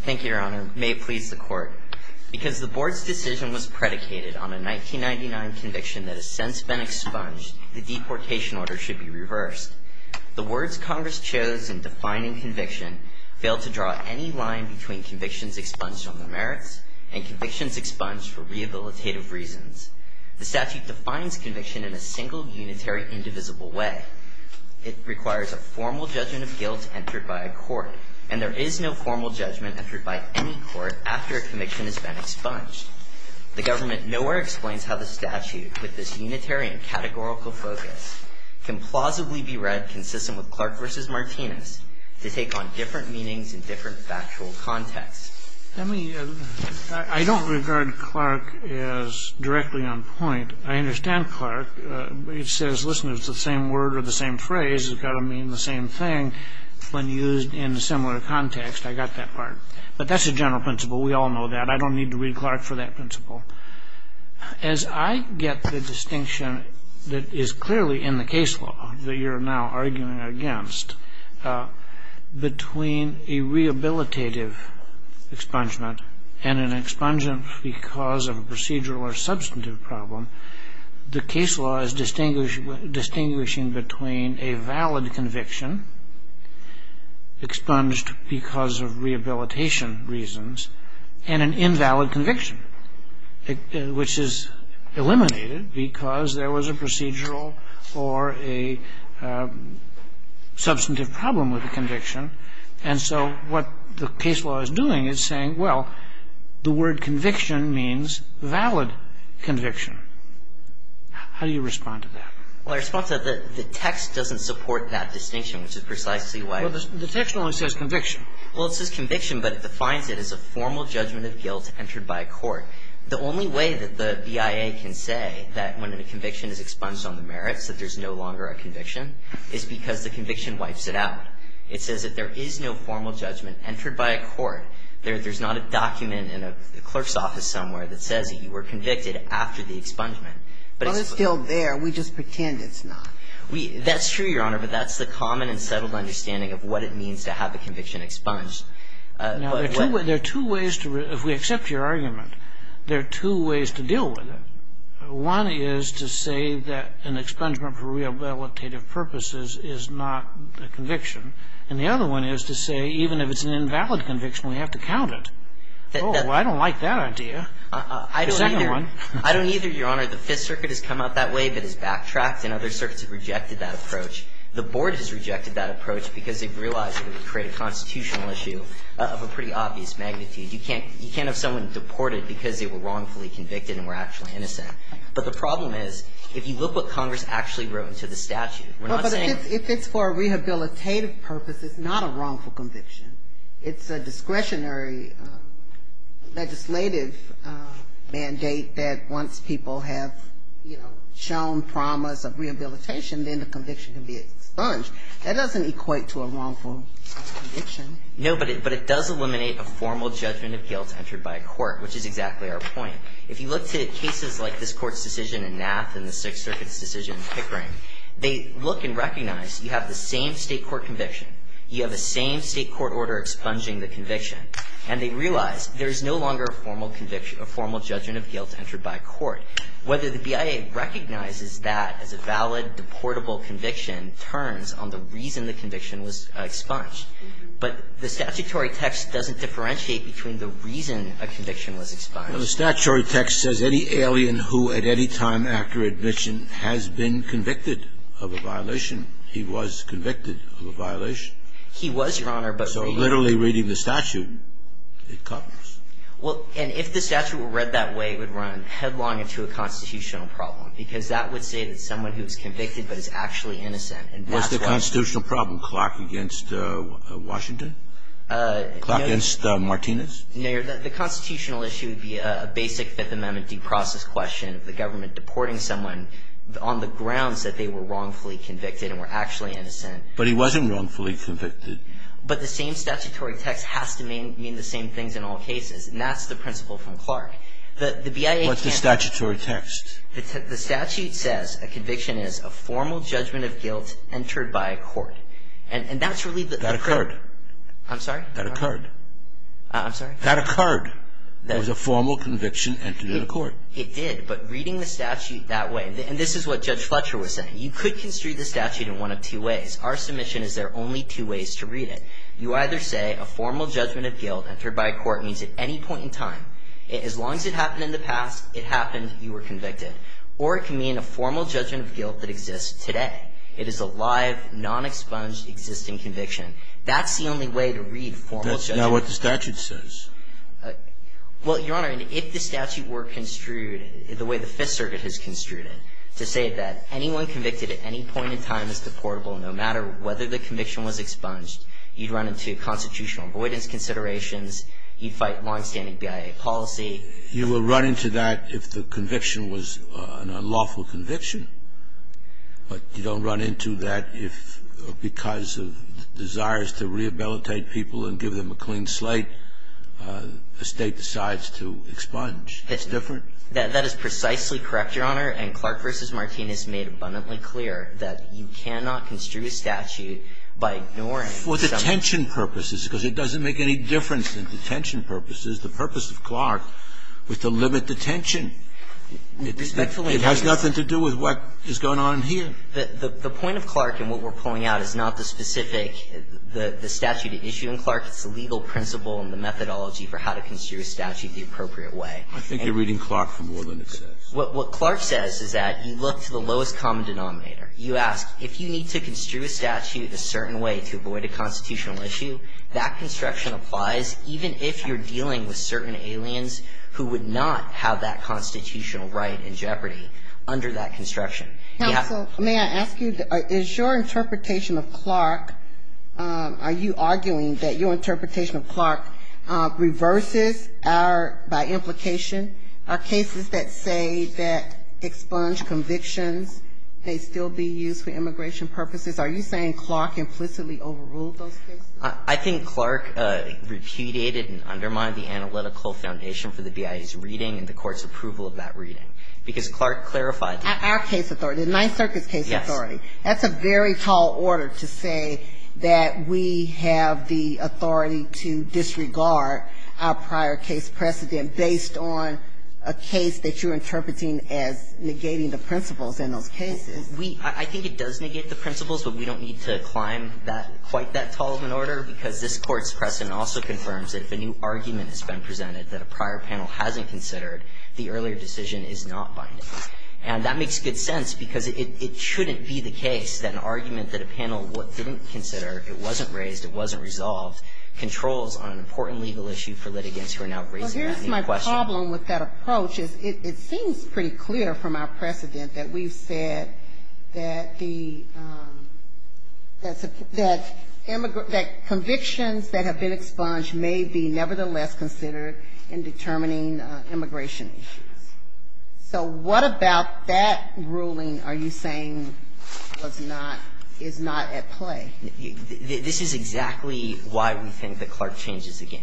Thank you, Your Honor. May it please the Court. Because the Board's decision was predicated on a 1999 conviction that has since been expunged, the deportation order should be reversed. The words Congress chose in defining conviction fail to draw any line between convictions expunged from the merits and convictions expunged for rehabilitative reasons. The statute defines conviction in a single, unitary, indivisible way. It requires a formal judgment of guilt entered by a court. And there is no formal judgment entered by any court after a conviction has been expunged. The government nowhere explains how the statute, with this unitary and categorical focus, can plausibly be read consistent with Clark v. Martinez to take on different meanings in different factual contexts. I mean, I don't regard Clark as directly on point. I understand Clark. It says, listen, it's the same word or the same phrase. It's got to mean the same thing when used in a similar context. I got that part. But that's a general principle. We all know that. I don't need to read Clark for that principle. As I get the distinction that is clearly in the case law that you're now arguing against, between a rehabilitative expungement and an expungement because of a procedural or substantive problem, the case law is distinguishing between a valid conviction expunged because of rehabilitation reasons and an invalid conviction, which is eliminated because there was a procedural or a substantive problem with the conviction. And so what the case law is doing is saying, well, the word conviction means valid conviction. How do you respond to that? Well, I respond to that the text doesn't support that distinction, which is precisely why the text only says conviction. Well, it says conviction, but it defines it as a formal judgment of guilt entered by a court. The only way that the BIA can say that when a conviction is expunged on the merits that there's no longer a conviction is because the conviction wipes it out. It says that there is no formal judgment entered by a court. There's not a document in a clerk's office somewhere that says that you were convicted after the expungement. But it's still there. We just pretend it's not. That's true, Your Honor, but that's the common and settled understanding of what it means to have a conviction expunged. Now, there are two ways to, if we accept your argument, there are two ways to deal with it. One is to say that an expungement for rehabilitative purposes is not a conviction. And the other one is to say even if it's an invalid conviction, we have to count it. Oh, well, I don't like that idea. I don't either, Your Honor. Your Honor, the Fifth Circuit has come out that way, but has backtracked, and other circuits have rejected that approach. The Board has rejected that approach because they've realized it would create a constitutional issue of a pretty obvious magnitude. You can't have someone deported because they were wrongfully convicted and were actually innocent. But the problem is, if you look what Congress actually wrote into the statute, we're not saying that it's not a wrongful conviction. It's a discretionary legislative mandate that once people have, you know, shown promise of rehabilitation, then the conviction can be expunged. That doesn't equate to a wrongful conviction. No, but it does eliminate a formal judgment of guilt entered by a court, which is exactly our point. If you look to cases like this Court's decision in Nath and the Sixth Circuit's decision in Pickering, they look and recognize you have the same state court conviction. You have the same state court order expunging the conviction. And they realize there is no longer a formal judgment of guilt entered by a court. Whether the BIA recognizes that as a valid, deportable conviction turns on the reason the conviction was expunged. But the statutory text doesn't differentiate between the reason a conviction was expunged. Well, the statutory text says any alien who at any time after admission has been convicted of a violation, he was convicted of a violation. He was, Your Honor, but for you. So literally reading the statute, it covers. Well, and if the statute were read that way, it would run headlong into a constitutional problem, because that would say that someone who is convicted but is actually innocent. And that's why. What's the constitutional problem? Clark against Washington? Clark against Martinez? No, Your Honor. The constitutional issue would be a basic Fifth Amendment due process question of the government deporting someone on the grounds that they were wrongfully convicted and were actually innocent. But he wasn't wrongfully convicted. But the same statutory text has to mean the same things in all cases. And that's the principle from Clark. What's the statutory text? The statute says a conviction is a formal judgment of guilt entered by a court. And that's really the... That occurred. I'm sorry? That occurred. I'm sorry? That occurred. It was a formal conviction entered in a court. It did. But reading the statute that way... And this is what Judge Fletcher was saying. You could construe the statute in one of two ways. Our submission is there are only two ways to read it. You either say a formal judgment of guilt entered by a court means at any point in time, as long as it happened in the past, it happened, you were convicted. Or it can mean a formal judgment of guilt that exists today. It is a live, non-expunged, existing conviction. That's the only way to read formal judgment. That's not what the statute says. Well, Your Honor, if the statute were construed the way the Fifth Circuit has construed it, to say that anyone convicted at any point in time is deportable, no matter whether the conviction was expunged, you'd run into constitutional avoidance considerations. You'd fight longstanding BIA policy. You would run into that if the conviction was an unlawful conviction. But you don't run into that if, because of desires to rehabilitate people and give them a clean slate, a State decides to expunge. It's different. That is precisely correct, Your Honor. And Clark v. Martinez made abundantly clear that you cannot construe a statute by ignoring... For detention purposes, because it doesn't make any difference in detention purposes. The purpose of Clark was to limit detention. Respectfully... It has nothing to do with what is going on here. The point of Clark and what we're pulling out is not the specific, the statute at issue in Clark. It's the legal principle and the methodology for how to construe a statute the appropriate way. I think you're reading Clark for more than it says. What Clark says is that you look to the lowest common denominator. You ask, if you need to construe a statute a certain way to avoid a constitutional issue, that construction applies even if you're dealing with certain aliens who would not have that constitutional right in jeopardy under that construction. Counsel, may I ask you, is your interpretation of Clark, are you arguing that your interpretation of Clark reverses our, by implication, our cases that say that expunged convictions may still be used for immigration purposes? Are you saying Clark implicitly overruled those cases? I think Clark repudiated and undermined the analytical foundation for the BIA's reading and the Court's approval of that reading. Because Clark clarified that. Our case authority, the Ninth Circuit's case authority. Yes. That's a very tall order to say that we have the authority to disregard our prior case precedent based on a case that you're interpreting as negating the principles in those cases. We, I think it does negate the principles, but we don't need to climb that, quite that tall of an order, because this Court's precedent also confirms that if a new argument has been presented that a prior panel hasn't considered, the earlier decision is not binding. And that makes good sense, because it shouldn't be the case that an argument that a panel didn't consider, it wasn't raised, it wasn't resolved, controls on an important legal issue for litigants who are now raising that new question. But the problem with that approach is it seems pretty clear from our precedent that we've said that the, that convictions that have been expunged may be nevertheless considered in determining immigration issues. So what about that ruling are you saying was not, is not at play? This is exactly why we think that Clark changes the game.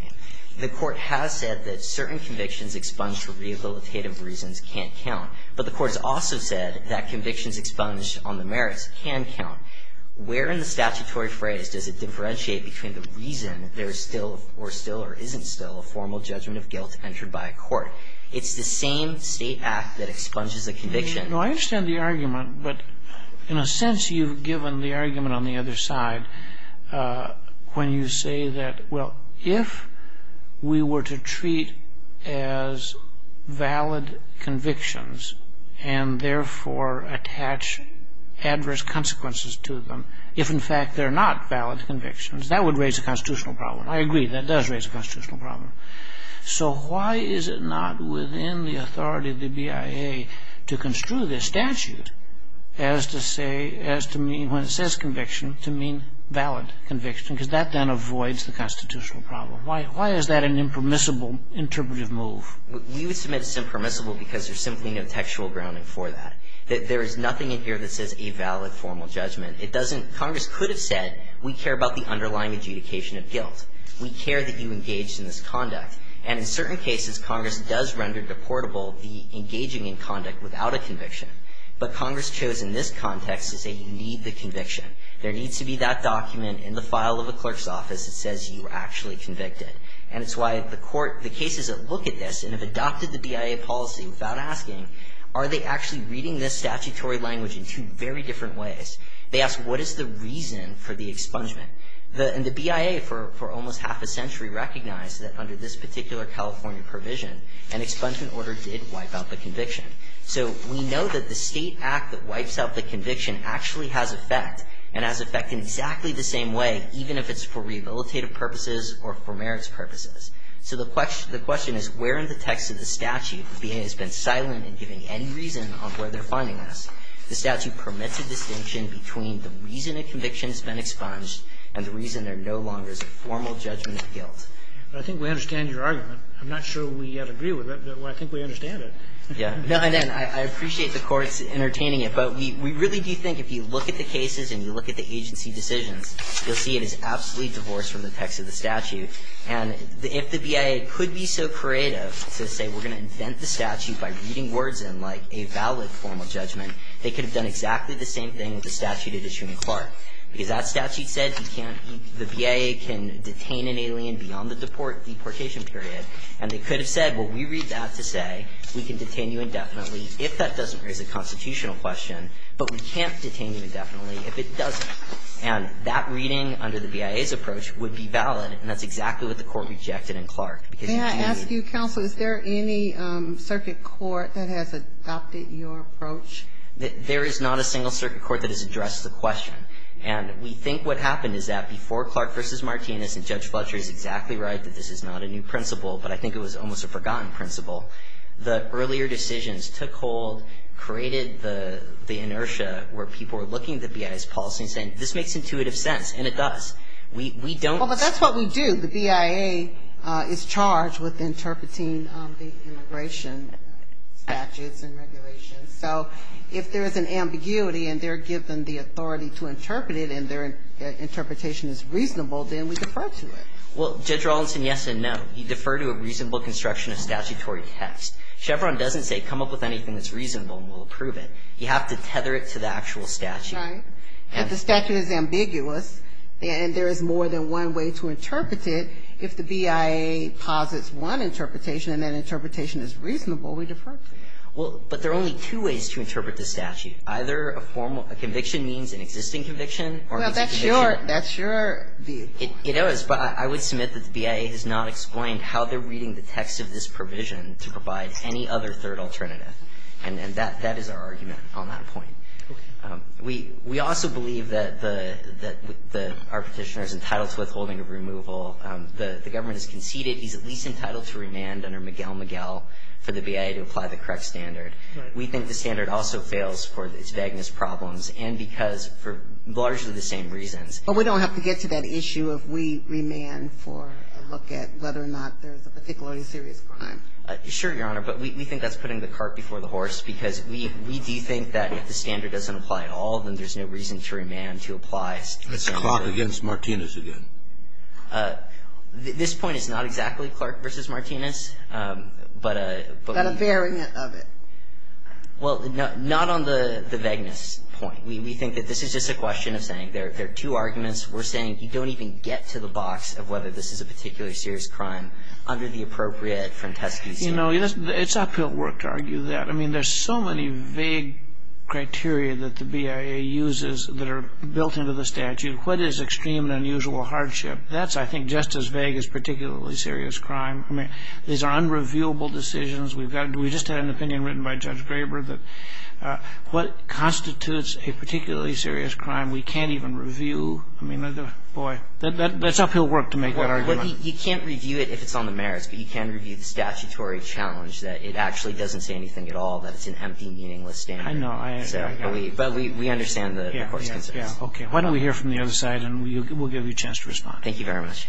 The Court has said that certain convictions expunged for rehabilitative reasons can't count. But the Court's also said that convictions expunged on the merits can count. Where in the statutory phrase does it differentiate between the reason there's still, or still or isn't still, a formal judgment of guilt entered by a court? It's the same state act that expunges a conviction. No, I understand the argument, but in a sense you've given the argument on the other side when you say that, well, if we were to treat as valid convictions and therefore attach adverse consequences to them, if in fact they're not valid convictions, that would raise a constitutional problem. I agree, that does raise a constitutional problem. So why is it not within the authority of the BIA to construe this statute as to say, as to mean, when it says conviction, to mean valid conviction? Because that then avoids the constitutional problem. Why is that an impermissible interpretive move? We would submit it's impermissible because there's simply no textual grounding for that. There is nothing in here that says a valid formal judgment. It doesn't, Congress could have said we care about the underlying adjudication of guilt. We care that you engaged in this conduct. And in certain cases, Congress does render deportable the engaging in conduct without a conviction. But Congress chose in this context to say you need the conviction. There needs to be that document in the file of a clerk's office that says you were actually convicted. And it's why the court, the cases that look at this and have adopted the BIA policy without asking, are they actually reading this statutory language in two very different ways? They ask, what is the reason for the expungement? And the BIA for almost half a century recognized that under this particular California provision, an expungement order did wipe out the conviction. So we know that the State act that wipes out the conviction actually has effect and has effect in exactly the same way, even if it's for rehabilitative purposes or for merits purposes. So the question is where in the text of the statute the BIA has been silent in giving any reason on where they're finding us. The statute permits a distinction between the reason a conviction has been expunged and the reason there no longer is a formal judgment of guilt. Sotomayor, I think we understand your argument. I'm not sure we yet agree with it, but I think we understand it. Yeah. No, I appreciate the courts entertaining it. But we really do think if you look at the cases and you look at the agency decisions, you'll see it is absolutely divorced from the text of the statute. And if the BIA could be so creative to say we're going to invent the statute by reading words in like a valid formal judgment, they could have done exactly the same thing with the statute it issued in Clark. Because that statute said the BIA can detain an alien beyond the deportation period. And they could have said, well, we read that to say we can detain you indefinitely if that doesn't raise a constitutional question, but we can't detain you indefinitely if it doesn't. And that reading under the BIA's approach would be valid. And that's exactly what the Court rejected in Clark. Can I ask you, counsel, is there any circuit court that has adopted your approach? There is not a single circuit court that has addressed the question. And we think what happened is that before Clark v. Martinez and Judge Fletcher is exactly right that this is not a new principle, but I think it was almost a forgotten principle, the earlier decisions took hold, created the inertia where people were looking at the BIA's policy and saying, this makes intuitive sense. And it does. We don't Well, but that's what we do. The BIA is charged with interpreting the immigration statutes and regulations. So if there is an ambiguity and they're given the authority to interpret it and their Well, Judge Rawlinson, yes and no. You defer to a reasonable construction of statutory text. Chevron doesn't say come up with anything that's reasonable and we'll approve it. You have to tether it to the actual statute. Right. But the statute is ambiguous and there is more than one way to interpret it. If the BIA posits one interpretation and that interpretation is reasonable, we defer to it. Well, but there are only two ways to interpret the statute. Either a conviction means an existing conviction or means a conviction Well, that's your view. It is, but I would submit that the BIA has not explained how they're reading the text of this provision to provide any other third alternative. And that is our argument on that point. Okay. We also believe that our Petitioner is entitled to withholding of removal. The government has conceded he's at least entitled to remand under Miguel-Miguel for the BIA to apply the correct standard. Right. We think the standard also fails for its vagueness problems and because for largely the same reasons. But we don't have to get to that issue if we remand for a look at whether or not there's a particularly serious crime. Sure, Your Honor, but we think that's putting the cart before the horse because we do think that if the standard doesn't apply at all, then there's no reason to remand to apply standard. That's Clark against Martinez again. This point is not exactly Clark versus Martinez, but we But a variant of it. Well, not on the vagueness point. We think that this is just a question of saying there are two arguments. We're saying you don't even get to the box of whether this is a particularly serious crime under the appropriate Franteschi standard. You know, it's uphill work to argue that. I mean, there's so many vague criteria that the BIA uses that are built into the What is extreme and unusual hardship? That's, I think, just as vague as particularly serious crime. I mean, these are unrevealable decisions. We just had an opinion written by Judge Graber that what constitutes a particular particularly serious crime we can't even review. I mean, boy, that's uphill work to make that argument. Well, you can't review it if it's on the merits, but you can review the statutory challenge that it actually doesn't say anything at all, that it's an empty, meaningless standard. I know. I understand. But we understand the Court's concerns. Okay. Why don't we hear from the other side, and we'll give you a chance to respond. Thank you very much.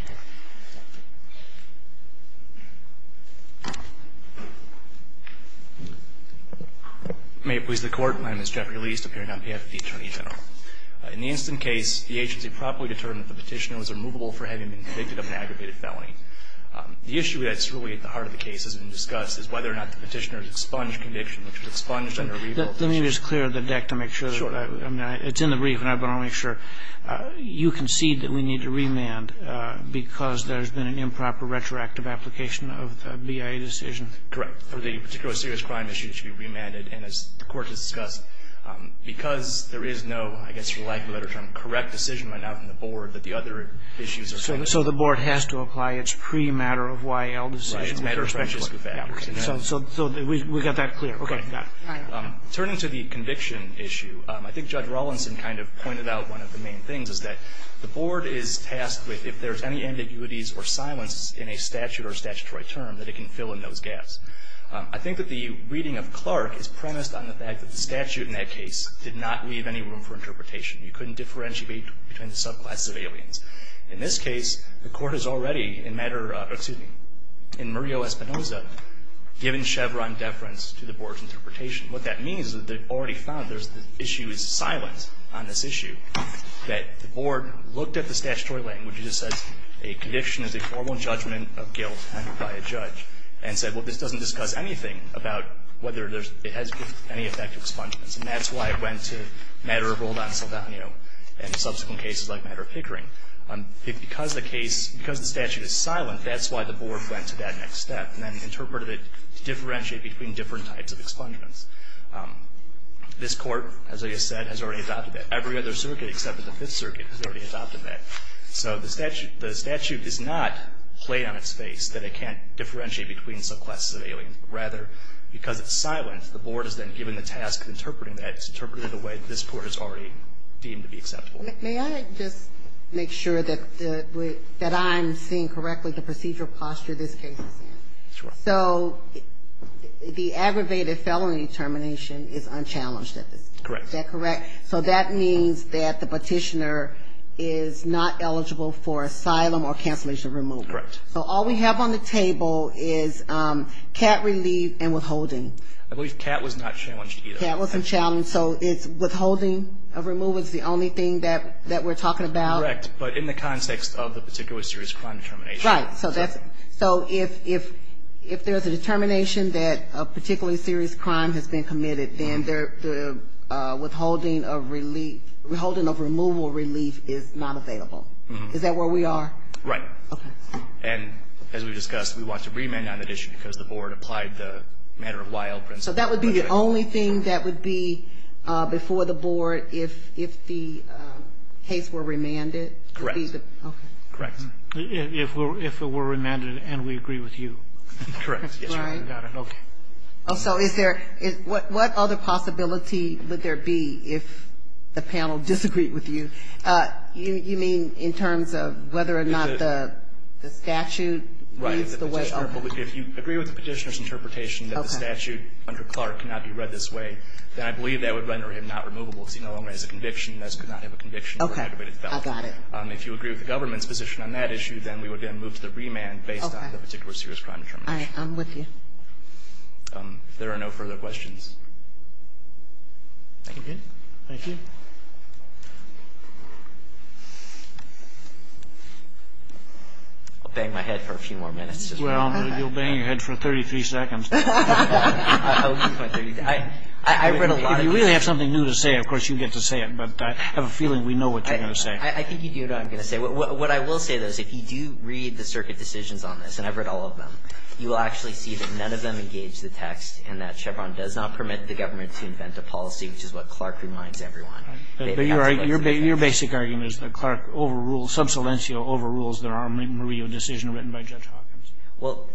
May it please the Court. Thank you, Mr. Chairman. My name is Jeffrey Liest, appearing on behalf of the Attorney General. In the instant case, the agency properly determined that the Petitioner was removable for having been convicted of an aggravated felony. The issue that's really at the heart of the case that's been discussed is whether or not the Petitioner's expunged conviction, which was expunged under a revoked Petitioner. Let me just clear the deck to make sure. Sure. I mean, it's in the brief, but I want to make sure. You concede that we need to remand because there's been an improper retroactive application of the BIA decision? Correct. The particular serious crime issue should be remanded. And as the Court has discussed, because there is no, I guess, for lack of a better term, correct decision right now from the Board, that the other issues are solved. So the Board has to apply its pre-matter-of-Y.L. decision? It's matter-of-factual. Matter-of-factual. So we've got that clear. Okay. Got it. All right. Turning to the conviction issue, I think Judge Rawlinson kind of pointed out one of the main things, is that the Board is tasked with, if there's any ambiguities or silences in a statute or statutory term, that it can fill in those gaps. I think that the reading of Clark is premised on the fact that the statute in that case did not leave any room for interpretation. You couldn't differentiate between the subclass civilians. In this case, the Court has already, in matter, excuse me, in Murillo-Espinoza, given Chevron deference to the Board's interpretation. What that means is that they've already found there's issues of silence on this judgment of guilt handed by a judge and said, well, this doesn't discuss anything about whether it has any effect on expungements. And that's why it went to matter of Roldan-Saldaño and subsequent cases like matter of Pickering. Because the case, because the statute is silent, that's why the Board went to that next step and then interpreted it to differentiate between different types of expungements. This Court, as I just said, has already adopted that. Every other circuit except for the Fifth Circuit has already adopted that. So the statute does not play on its face that it can't differentiate between subclass civilians. Rather, because it's silent, the Board is then given the task of interpreting that. It's interpreted in a way that this Court has already deemed to be acceptable. May I just make sure that I'm seeing correctly the procedural posture this case is in? Sure. So the aggravated felony termination is unchallenged at this point. Correct. Is that correct? Correct. So that means that the petitioner is not eligible for asylum or cancellation of removal. Correct. So all we have on the table is cat relief and withholding. I believe cat was not challenged either. Cat wasn't challenged. So it's withholding of removal is the only thing that we're talking about? Correct. But in the context of the particular serious crime determination. Right. So if there's a determination that a particularly serious crime has been committed, then the withholding of relief, withholding of removal relief is not available. Is that where we are? Right. Okay. And as we discussed, we want to remand on that issue because the Board applied the matter-of-while principle. So that would be the only thing that would be before the Board if the case were remanded? Correct. Okay. Correct. If it were remanded and we agree with you. Correct. Yes, Your Honor. Got it. Okay. Also, is there – what other possibility would there be if the panel disagreed with you? You mean in terms of whether or not the statute leads the way? Right. If you agree with the Petitioner's interpretation that the statute under Clark cannot be read this way, then I believe that would render him not removable because he no longer has a conviction and thus could not have a conviction for an aggravated felony. Okay. I got it. If you agree with the government's position on that issue, then we would then move to the remand based on the particular serious crime determination. All right. I'm with you. If there are no further questions. Thank you. Thank you. I'll bang my head for a few more minutes. Well, you'll bang your head for 33 seconds. I read a lot of it. If you really have something new to say, of course, you get to say it. But I have a feeling we know what you're going to say. I think you do know what I'm going to say. What I will say, though, is if you do read the circuit decisions on this, and I've read all of them, you will actually see that none of them engage the text and that Chevron does not permit the government to invent a policy, which is what Clark reminds everyone. But your basic argument is that Clark overruled, sub saliencio overrules the Armand Murillo decision written by Judge Hawkins. Well,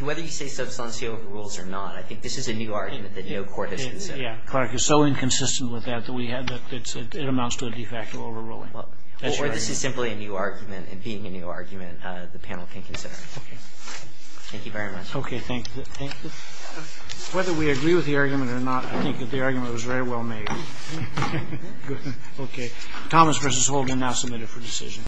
whether you say sub saliencio overrules or not, I think this is a new argument that no court has considered. Yeah. Clark is so inconsistent with that that it amounts to a de facto overruling. That's your argument. It's really a new argument, and being a new argument, the panel can consider. Okay. Thank you very much. Okay. Thank you. Whether we agree with the argument or not, I think that the argument was very well made. Good. Okay. Thomas v. Holden now submitted for decision.